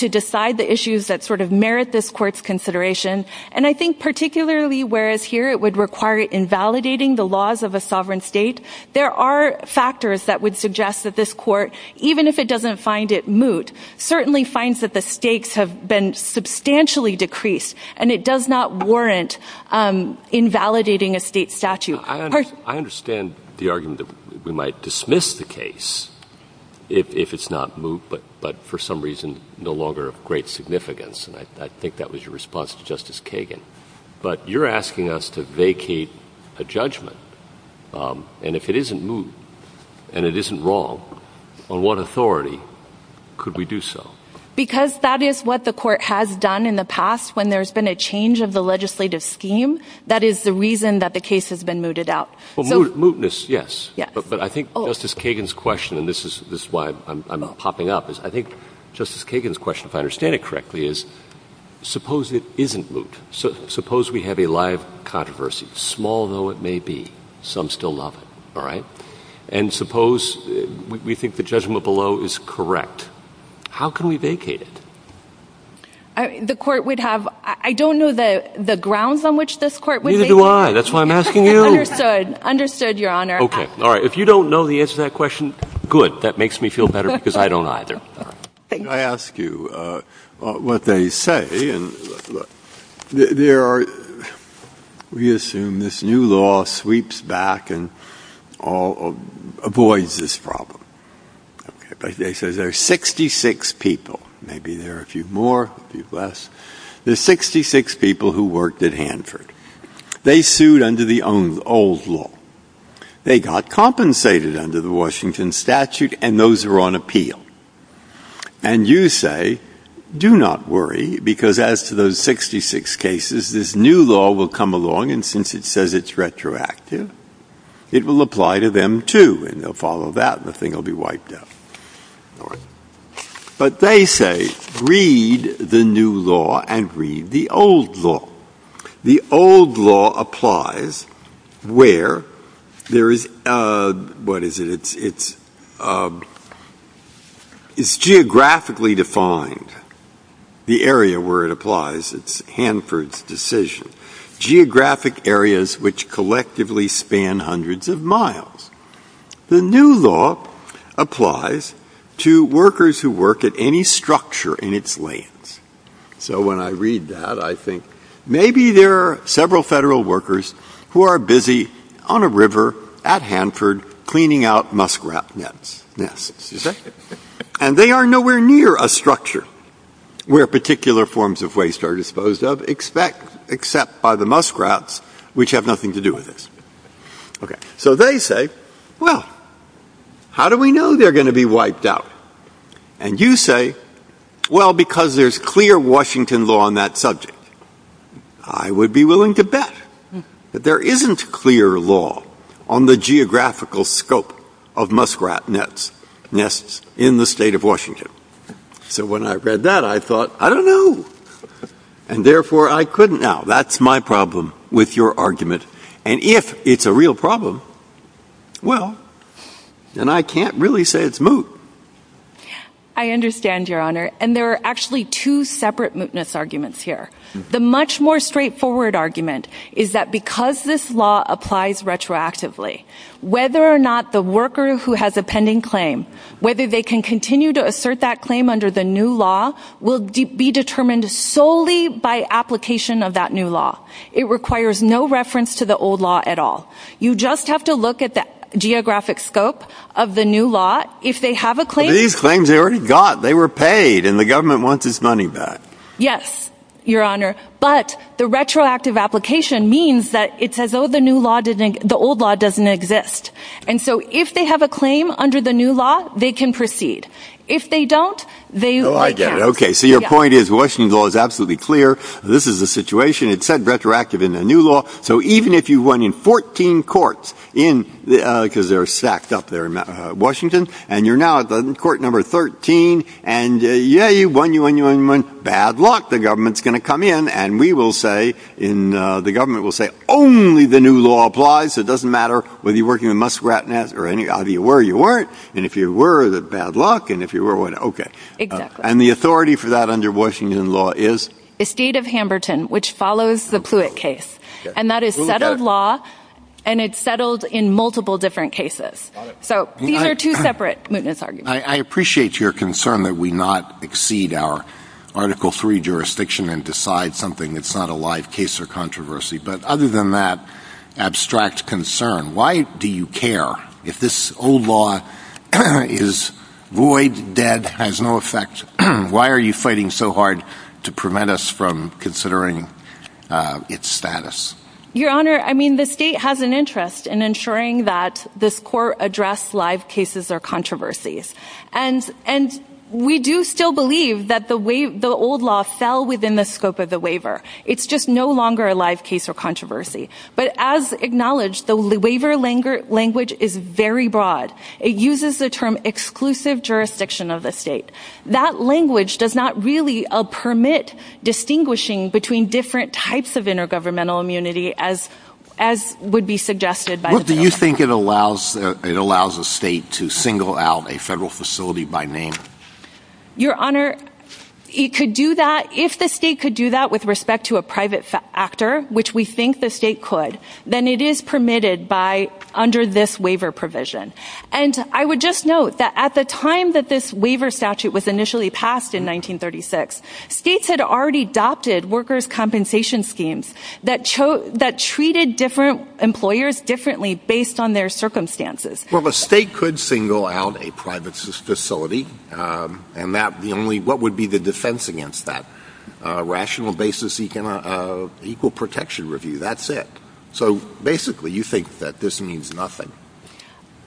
decide the issues that sort of merit this court's consideration. And I think particularly, whereas here it would require invalidating the laws of a sovereign state, there are factors that would suggest that this court, even if it doesn't find it moot, certainly finds that the stakes have been substantially decreased. And it does not warrant invalidating a state statute. I understand the argument that we might dismiss the case if it's not moot, but for some reason no longer of great significance. And I think that was your response to Justice Kagan. But you're asking us to vacate a judgment. And if it isn't moot and it isn't wrong, on what authority could we do so? Because that is what the court has done in the past, when there's been a change of the legislative scheme. That is the reason that the case has been mooted out. Mootness, yes. But I think Justice Kagan's question, and this is why I'm popping up, is I think Justice Kagan's question, if I understand it correctly, is suppose it isn't moot. Suppose we have a live controversy, small though it may be, some still love it, all right? And suppose we think the judgment below is correct. How can we vacate it? The court would have, I don't know the grounds on which this court would vacate it. Neither do I. That's why I'm asking you. Understood. Understood, Your Honor. Okay. All right. If you don't know the answer to that question, good. That makes me feel better because I don't either. I ask you what they say. We assume this new law sweeps back and avoids this problem. They say there are 66 people. Maybe there are a few more, a few less. There are 66 people who worked at Hanford. They sued under the old law. They got compensated under the Washington statute, and those are on appeal. And you say, do not worry, because as to those 66 cases, this new law will come along, and since it says it's retroactive, it will apply to them too, and they'll follow that, and the thing will be wiped out. All right. But they say, read the new law and read the old law. The old law applies where there is, what is it? It's geographically defined, the area where it applies. It's Hanford's decision. Geographic areas which collectively span hundreds of miles. The new law applies to workers who work at any structure in its lands. So when I read that, maybe there are several federal workers who are busy on a river at Hanford cleaning out muskrat nests, and they are nowhere near a structure where particular forms of waste are disposed of except by the muskrats, which have nothing to do with this. So they say, well, how do we know they're going to be wiped out? And you say, well, because there's clear Washington law on that subject. I would be willing to bet that there isn't clear law on the geographical scope of muskrat nests in the state of Washington. So when I read that, I thought, I don't know, and therefore I couldn't. Now, that's my problem with your argument, and if it's a real problem, well, then I can't really say it's moot. I understand, Your Honor, and there are actually two separate mootness arguments here. The much more straightforward argument is that because this law applies retroactively, whether or not the worker who has a pending claim, whether they can continue to assert that claim under the new law will be determined solely by application of that new law. It requires no reference to the old law at all. You just have to look at the geographic scope of the new law. If they have a claim... These claims they already got. They were paid, and the government wants its money back. Yes, Your Honor, but the retroactive application means that it says, oh, the new law didn't, the old law doesn't exist. And so if they have a claim under the new law, they can proceed. If they don't, they... Oh, I get it. Okay. So your point is Washington law is absolutely clear. This is the situation. It said retroactive in the new law. So even if you run in 14 courts in, because they're stacked up there in Washington, and you're now at the court number 13, and yeah, you won, you won, you won, you won. Bad luck. The government's going to come in, and we will say in, the government will say only the new law applies. So it doesn't matter whether you're working with Muskrat or any, either you were or you weren't. And if you were, the bad luck, and if you were, whatever. Okay. Exactly. And the authority for that under Washington law is? The state of Hamburton, which follows the Pluitt case. And that is settled law, and it's settled in multiple different cases. So these are two separate mootness arguments. I appreciate your concern that we not exceed our article three jurisdiction and decide something that's not a live case or controversy. But other than that abstract concern, why do you care if this old law is void, dead, has no effect? Why are you fighting so hard to prevent us from doing the right thing? The state has an interest in ensuring that this court address live cases or controversies. And, and we do still believe that the way the old law fell within the scope of the waiver. It's just no longer a live case or controversy, but as acknowledged, the waiver language is very broad. It uses the term exclusive jurisdiction of the state. That language does not really permit distinguishing between different types of intergovernmental immunity as, as would be suggested. But do you think it allows, it allows a state to single out a federal facility by name? Your honor, it could do that. If the state could do that with respect to a private actor, which we think the state could, then it is permitted by under this waiver provision. And I would just note that at the time that this waiver statute was initially passed in 1936, states had already adopted workers' compensation schemes that chose, that treated different employers differently based on their circumstances. Well, the state could single out a private facility. And that the only, what would be the defense against that? A rational basis of equal protection review. That's it. So basically you think that this means nothing.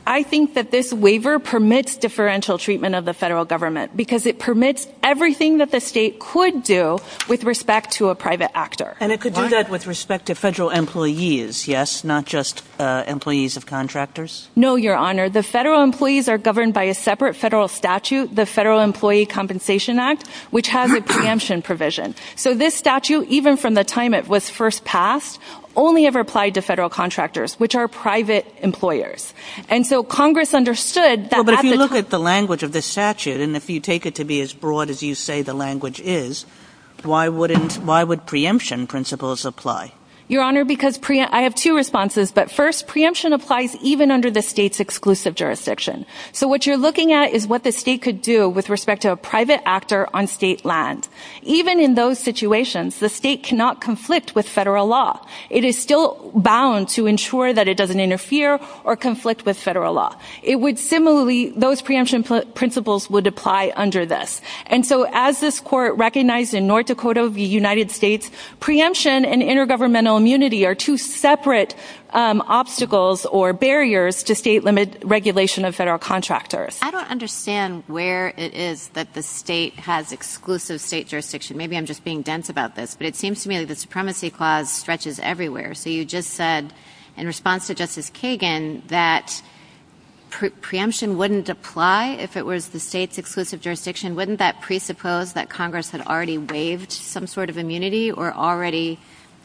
I think that this waiver permits differential treatment of the federal government because it could do with respect to a private actor. And it could do that with respect to federal employees. Yes. Not just employees of contractors. No, your honor, the federal employees are governed by a separate federal statute, the Federal Employee Compensation Act, which has a preemption provision. So this statute, even from the time it was first passed, only ever applied to federal contractors, which are private employers. And so Congress understood that. But if you look at the language of the statute, and if you take it to be as broad as you say, the language is, why wouldn't, why would preemption principles apply? Your honor, because pre, I have two responses, but first preemption applies even under the state's exclusive jurisdiction. So what you're looking at is what the state could do with respect to a private actor on state land. Even in those situations, the state cannot conflict with federal law. It is still bound to ensure that it doesn't interfere or conflict with federal law. It would similarly, those preemption principles would apply under this. And so as this court recognized in North Dakota of the United States, preemption and intergovernmental immunity are two separate obstacles or barriers to state limit regulation of federal contractors. I don't understand where it is that the state has exclusive state jurisdiction. Maybe I'm just being dense about this, but it seems to me that the supremacy clause stretches everywhere. So you just said in response to Justice Kagan, that preemption wouldn't apply if it was the state's exclusive jurisdiction. Wouldn't that presuppose that Congress had already waived some sort of immunity or already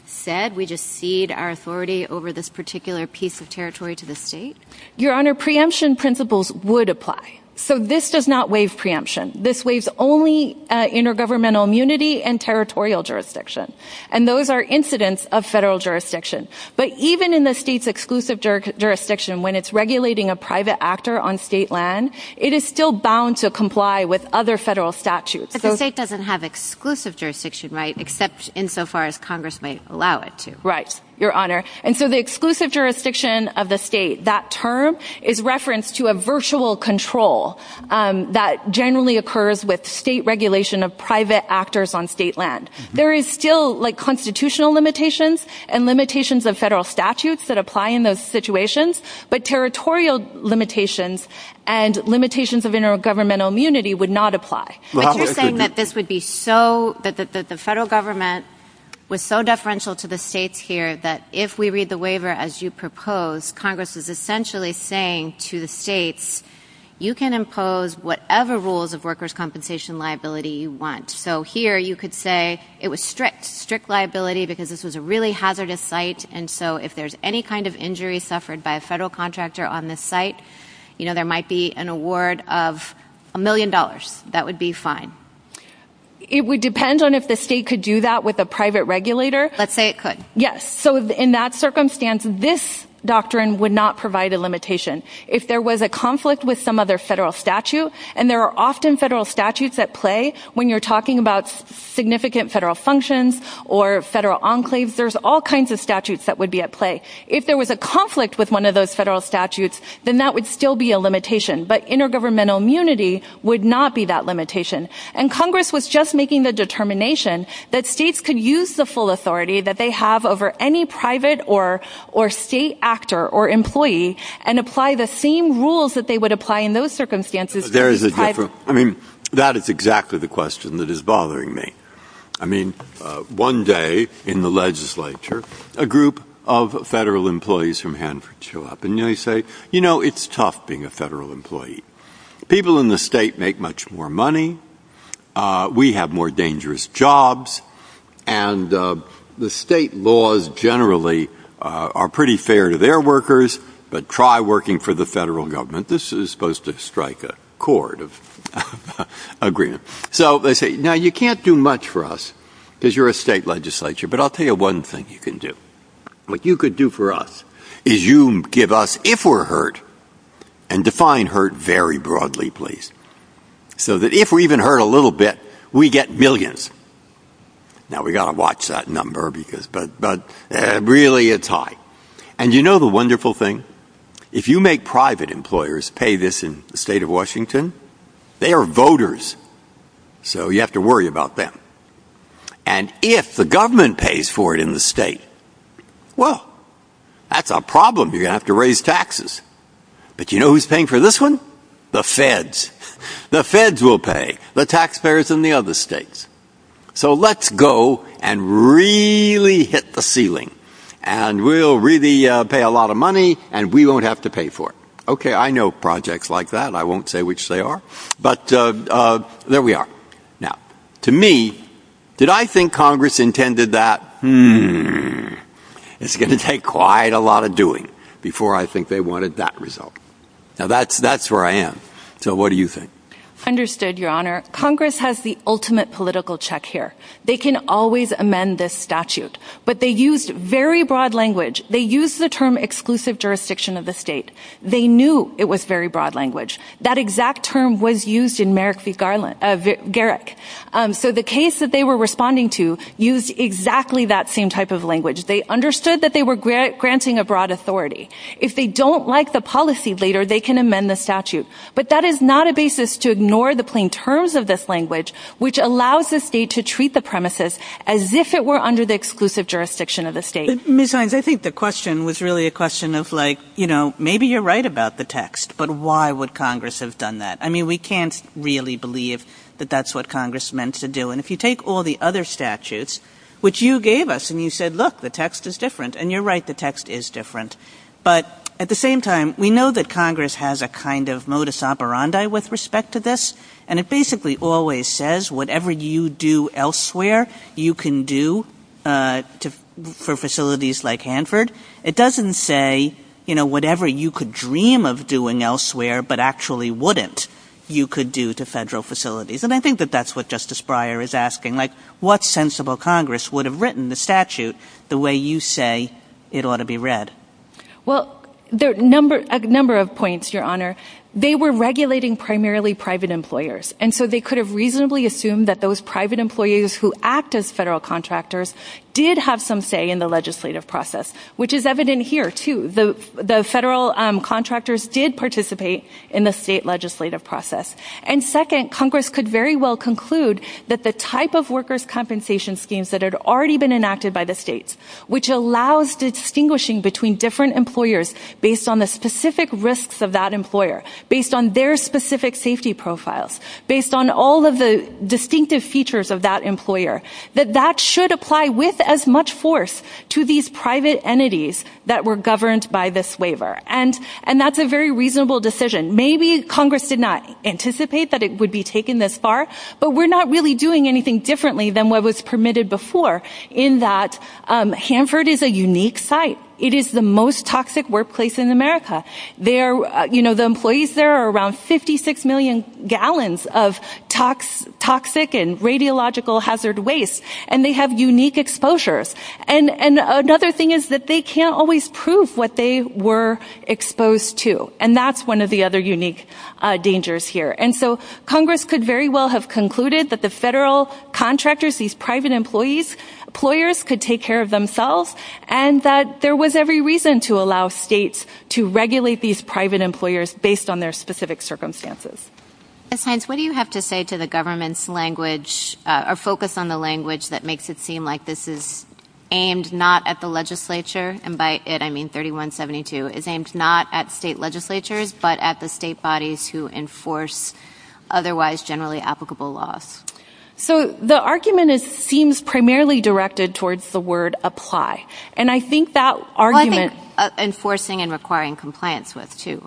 said, we just cede our authority over this particular piece of territory to the state? Your honor, preemption principles would apply. So this does not waive preemption. This waives only intergovernmental immunity and territorial jurisdiction. And those are incidents of federal jurisdiction. But even in the state's exclusive jurisdiction, when it's regulating a private actor on state land, it is still bound to comply with other federal statutes. But the state doesn't have exclusive jurisdiction, right? Except insofar as Congress might allow it to. Right. Your honor. And so the exclusive jurisdiction of the state, that term is referenced to a virtual control, um, that generally occurs with state regulation of private actors on state land. There is still like constitutional limitations and limitations of federal statutes that apply in those situations, but territorial limitations and limitations of intergovernmental immunity would not apply. But you're saying that this would be so, that the federal government was so deferential to the states here that if we read the waiver, as you propose, Congress is essentially saying to the states, you can impose whatever rules of workers' compensation liability you want. So here you could say it was strict, strict liability because this was a really hazardous site. And so if there's any kind of injury suffered by a federal contractor on this site, you know, there might be an award of a million dollars. That would be fine. It would depend on if the state could do that with a private regulator. Let's say it could. Yes. So in that circumstance, this doctrine would not provide a limitation. If there was a conflict with some other federal statute, and there are often federal statutes at play when you're talking about significant federal functions or federal enclaves, there's all kinds of statutes that would be at play. If there was a conflict with one of those federal statutes, then that would still be a limitation. But intergovernmental immunity would not be that limitation. And Congress was just making the determination that states could use the full authority that they have over any private or, or state actor or employee and apply the same rules that they would apply in those circumstances. There is a difference. I mean, that is exactly the question that is bothering me. I mean, one day in the legislature, a group of federal employees from Hanford show up and they say, you know, it's tough being a federal employee. People in the state make much more money. We have more dangerous jobs. And the state laws generally are pretty fair to their workers, but try working for the federal government. This is supposed to strike a chord of agreement. So they say, now you can't do much for us because you're a state legislature, but I'll tell you one thing you can do. What you could do for us is you give us, if we're hurt and define hurt very broadly, please. So that if we even hurt a little bit, we get millions. Now we got to watch that number because, but, but really it's high. And you know, the wonderful thing, if you make private employers pay this in the state of Washington, they are voters. So you have to worry about them. And if the government pays for it in the state, well, that's a problem. You're gonna have to raise taxes, but you know, who's paying for this one? The feds, the feds will pay the taxpayers in the other states. So let's go and really hit the ceiling and we'll really pay a lot of money and we won't have to pay for it. Okay. I know projects like that. I won't say which they are, but there we are. Now to me, did I think Congress intended that? Hmm. It's going to take quite a lot of doing before I think they wanted that result. Now that's, that's where I am. So what do you think? I understood your honor. Congress has the ultimate political check here. They can always amend this statute, but they used very broad language. They use the term exclusive jurisdiction of the state. They knew it was very broad language. That exact term was used in Merrick v. Garrick. So the case that they were responding to used exactly that same type of language. They understood that they were granting a broad authority. If they don't like the policy later, they can amend the statute, but that is not a basis to ignore the plain terms of this language, which allows the state to treat the premises as if it were under the exclusive jurisdiction of the state. Ms. Hines, I think the text, but why would Congress have done that? I mean, we can't really believe that that's what Congress meant to do. And if you take all the other statutes, which you gave us and you said, look, the text is different. And you're right. The text is different. But at the same time, we know that Congress has a kind of modus operandi with respect to this. And it basically always says whatever you do elsewhere, you can do for facilities like Hanford. It doesn't say, you know, whatever you could dream of doing elsewhere, but actually wouldn't, you could do to federal facilities. And I think that that's what Justice Breyer is asking. Like, what sensible Congress would have written the statute the way you say it ought to be read? Well, there are a number of points, Your Honor. They were regulating primarily private employers. And so they could have reasonably assumed that those private employees who act as federal the federal contractors did participate in the state legislative process. And second, Congress could very well conclude that the type of workers' compensation schemes that had already been enacted by the states, which allows distinguishing between different employers based on the specific risks of that employer, based on their specific safety profiles, based on all of the distinctive features of that employer, that that should apply with as much force to these private entities that were governed by this waiver. And that's a very reasonable decision. Maybe Congress did not anticipate that it would be taken this far, but we're not really doing anything differently than what was permitted before in that Hanford is a unique site. It is the most toxic workplace in America. The employees there are around 56 gallons of toxic and radiological hazard waste, and they have unique exposures. And another thing is that they can't always prove what they were exposed to. And that's one of the other unique dangers here. And so Congress could very well have concluded that the federal contractors, these private employers, could take care of themselves, and that there was every reason to allow states to regulate these private employers based on their specific circumstances. Ms. Hines, what do you have to say to the government's language, or focus on the language that makes it seem like this is aimed not at the legislature, and by it I mean 3172, is aimed not at state legislatures, but at the state bodies who enforce otherwise generally applicable laws? So the argument is, seems primarily directed towards the word apply. And I think that argument... Well, I think enforcing and requiring compliance with too,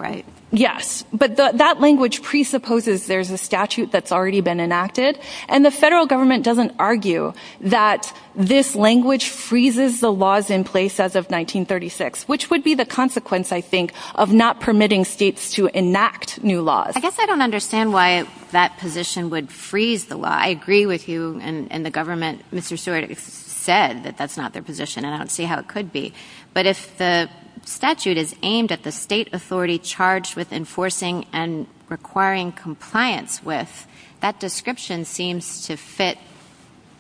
yes. But that language presupposes there's a statute that's already been enacted, and the federal government doesn't argue that this language freezes the laws in place as of 1936, which would be the consequence, I think, of not permitting states to enact new laws. I guess I don't understand why that position would freeze the law. I agree with you, and the government, Mr. Stewart said that that's not their position, and I don't see how it could be. But if the statute is aimed at the state authority charged with enforcing and requiring compliance with, that description seems to fit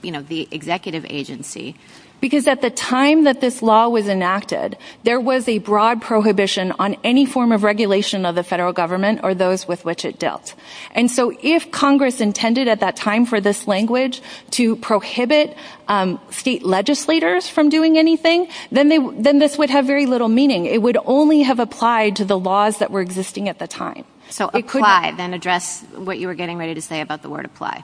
the executive agency. Because at the time that this law was enacted, there was a broad prohibition on any form of regulation of the federal government or those with which it dealt. And so if Congress intended at that time for this language to have very little meaning, it would only have applied to the laws that were existing at the time. So apply, then address what you were getting ready to say about the word apply.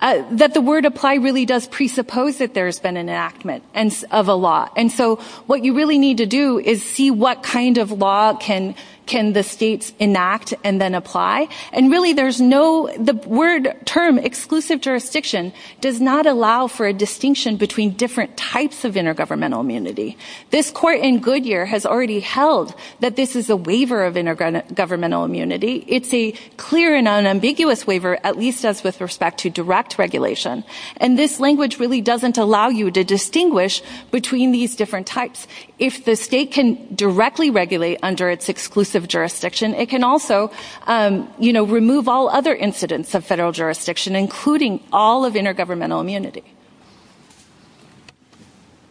That the word apply really does presuppose that there's been an enactment of a law. And so what you really need to do is see what kind of law can the states enact and then apply. And really, there's no... The word term, exclusive jurisdiction, does not allow for a distinction between different types of intergovernmental immunity. This court in Goodyear has already held that this is a waiver of intergovernmental immunity. It's a clear and unambiguous waiver, at least as with respect to direct regulation. And this language really doesn't allow you to distinguish between these different types. If the state can directly regulate under its exclusive jurisdiction, it can also remove all other incidents of federal jurisdiction, including all of intergovernmental immunity.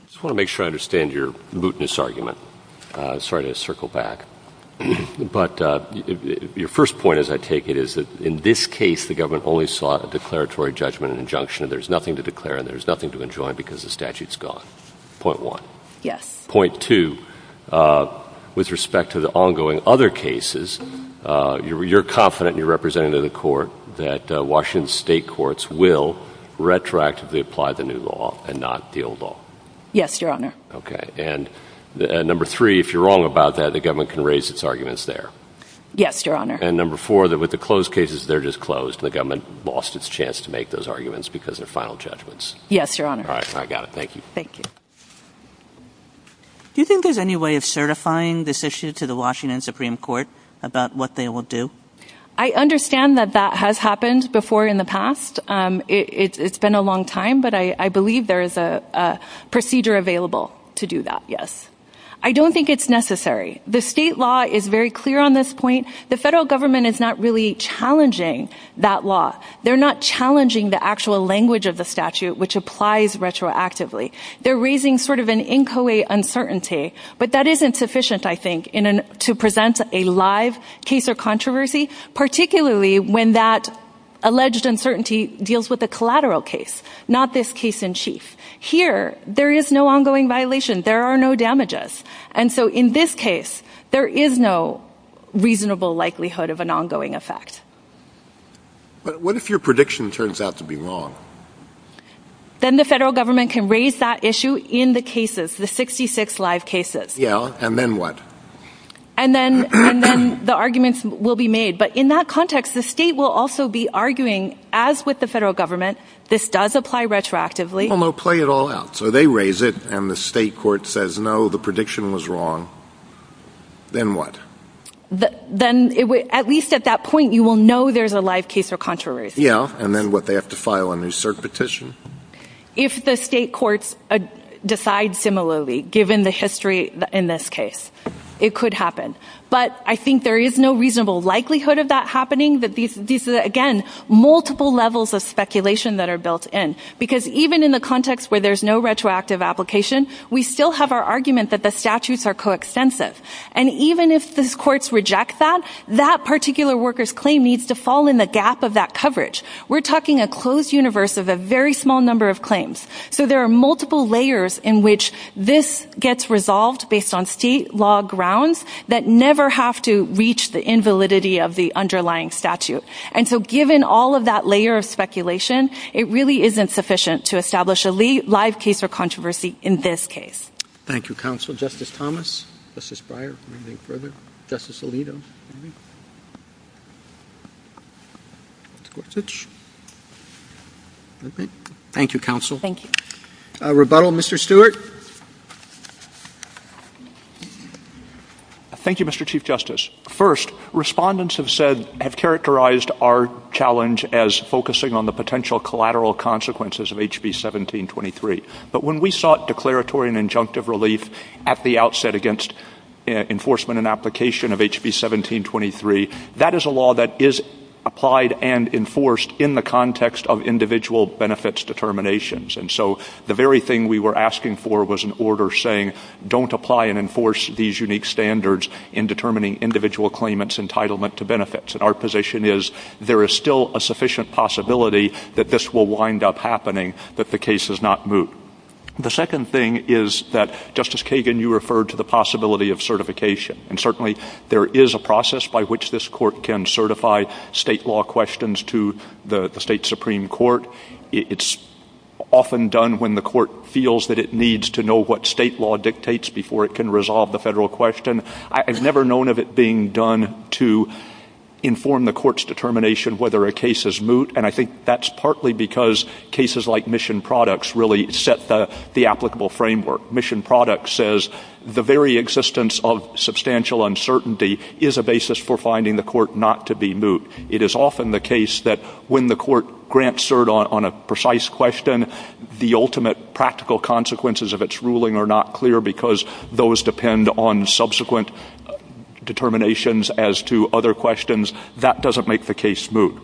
I just want to make sure I understand your mootness argument. Sorry to circle back. But your first point, as I take it, is that in this case, the government only sought a declaratory judgment and injunction, and there's nothing to declare and there's nothing to enjoin because the statute's gone. Point one. Yes. Point two, with respect to the ongoing other cases, you're confident, and you're representing the court, that Washington state courts will retroactively apply the new law and not the old Yes, your honor. Okay. And number three, if you're wrong about that, the government can raise its arguments there. Yes, your honor. And number four, that with the closed cases, they're just closed. The government lost its chance to make those arguments because their final judgments. Yes, your honor. All right. I got it. Thank you. Thank you. Do you think there's any way of certifying this issue to the Washington Supreme Court about what they will do? I understand that that has happened before in the past. It's been a long time, but I believe there is a procedure available to do that. Yes. I don't think it's necessary. The state law is very clear on this point. The federal government is not really challenging that law. They're not challenging the actual language of the statute, which applies retroactively. They're raising sort of an inchoate uncertainty, but that isn't sufficient, I think, to present a live case or controversy, particularly when that alleged uncertainty deals with a collateral case, not this case in chief. Here, there is no ongoing violation. There are no damages. And so in this case, there is no reasonable likelihood of an ongoing effect. What if your prediction turns out to be wrong? Then the federal government can raise that issue in the cases, the 66 live cases. Yeah. And then what? And then the arguments will be made. But in that context, the state will also be as with the federal government, this does apply retroactively. Well, no, play it all out. So they raise it and the state court says, no, the prediction was wrong. Then what? Then at least at that point, you will know there's a live case or controversy. Yeah. And then what? They have to file a new cert petition. If the state courts decide similarly, given the history in this case, it could happen. But I think there is no reasonable likelihood of that happening. Again, multiple levels of speculation that are built in. Because even in the context where there's no retroactive application, we still have our argument that the statutes are coextensive. And even if the courts reject that, that particular worker's claim needs to fall in the gap of that coverage. We're talking a closed universe of a very small number of claims. So there are multiple layers in which this gets resolved based on state law grounds that never have to reach the invalidity of the underlying statute. And so given all of that layer of speculation, it really isn't sufficient to establish a live case or controversy in this case. Thank you, counsel. Justice Thomas, Justice Breyer, anything further? Justice Alito? Thank you, counsel. Thank you. Rebuttal, Mr. Stewart. Thank you, Mr. Chief Justice. First, respondents have said, have characterized our challenge as focusing on the potential collateral consequences of HB 1723. But when we sought declaratory and injunctive relief at the outset against enforcement and application of HB 1723, that is a law that is enforced in the context of individual benefits determinations. And so the very thing we were asking for was an order saying, don't apply and enforce these unique standards in determining individual claimants' entitlement to benefits. And our position is there is still a sufficient possibility that this will wind up happening, that the case does not move. The second thing is that, Justice Kagan, you referred to the possibility of certification. And certainly there is a process by which this court can certify state law questions to the state Supreme Court. It's often done when the court feels that it needs to know what state law dictates before it can resolve the federal question. I've never known of it being done to inform the court's determination whether a case is moot. And I think that's partly because cases like Mission Products really set the applicable framework. Mission Products says, the very existence of substantial uncertainty is a basis for finding the court not to be moot. It is often the case that when the court grants cert on a precise question, the ultimate practical consequences of its ruling are not clear because those depend on subsequent determinations as to other questions. That doesn't make the case moot.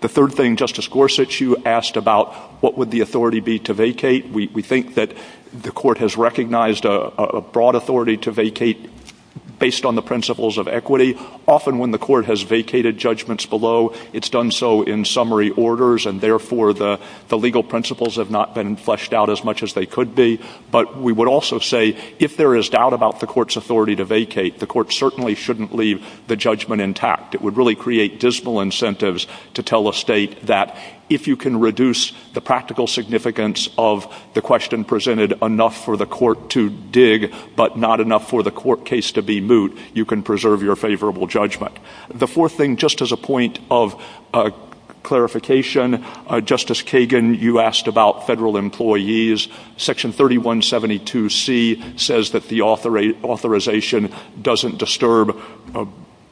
The third thing, Justice Gorsuch, you asked about what would the authority be to vacate. We think that the court has recognized a broad authority to vacate based on the principles of equity. Often when the court has vacated judgments below, it's done so in summary orders and therefore the legal principles have not been fleshed out as much as they could be. But we would also say if there is doubt about the court's authority to vacate, the court certainly shouldn't leave the judgment intact. It would really create dismal practical significance of the question presented enough for the court to dig but not enough for the court case to be moot. You can preserve your favorable judgment. The fourth thing, just as a point of clarification, Justice Kagan, you asked about federal employees. Section 3172C says that the authorization doesn't disturb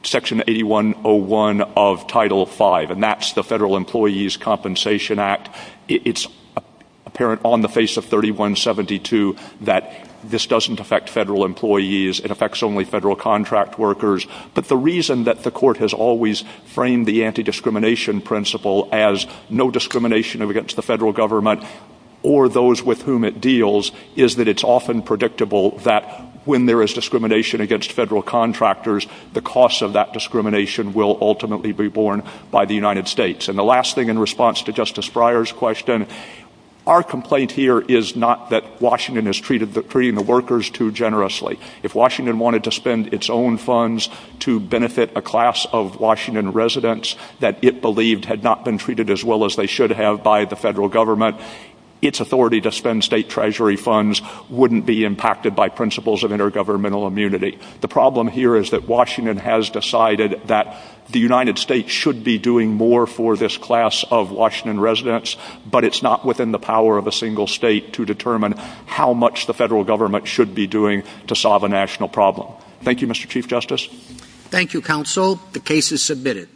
Section 8101 of Title V, and that's the Federal Employees Compensation Act. It's apparent on the face of 3172 that this doesn't affect federal employees. It affects only federal contract workers. But the reason that the court has always framed the anti-discrimination principle as no discrimination against the federal government or those with whom it deals is that it's often predictable that when there is discrimination against federal contractors, the cost of that discrimination will ultimately be borne by the United States. And the last thing in response to Justice Breyer's question, our complaint here is not that Washington is treating the workers too generously. If Washington wanted to spend its own funds to benefit a class of Washington residents that it believed had not been treated as well as they should have by the federal government, its authority to spend state treasury funds wouldn't be impacted by principles of intergovernmental immunity. The problem here is Washington has decided that the United States should be doing more for this class of Washington residents, but it's not within the power of a single state to determine how much the federal government should be doing to solve a national problem. Thank you, Mr. Chief Justice. Thank you, Counsel. The case is submitted.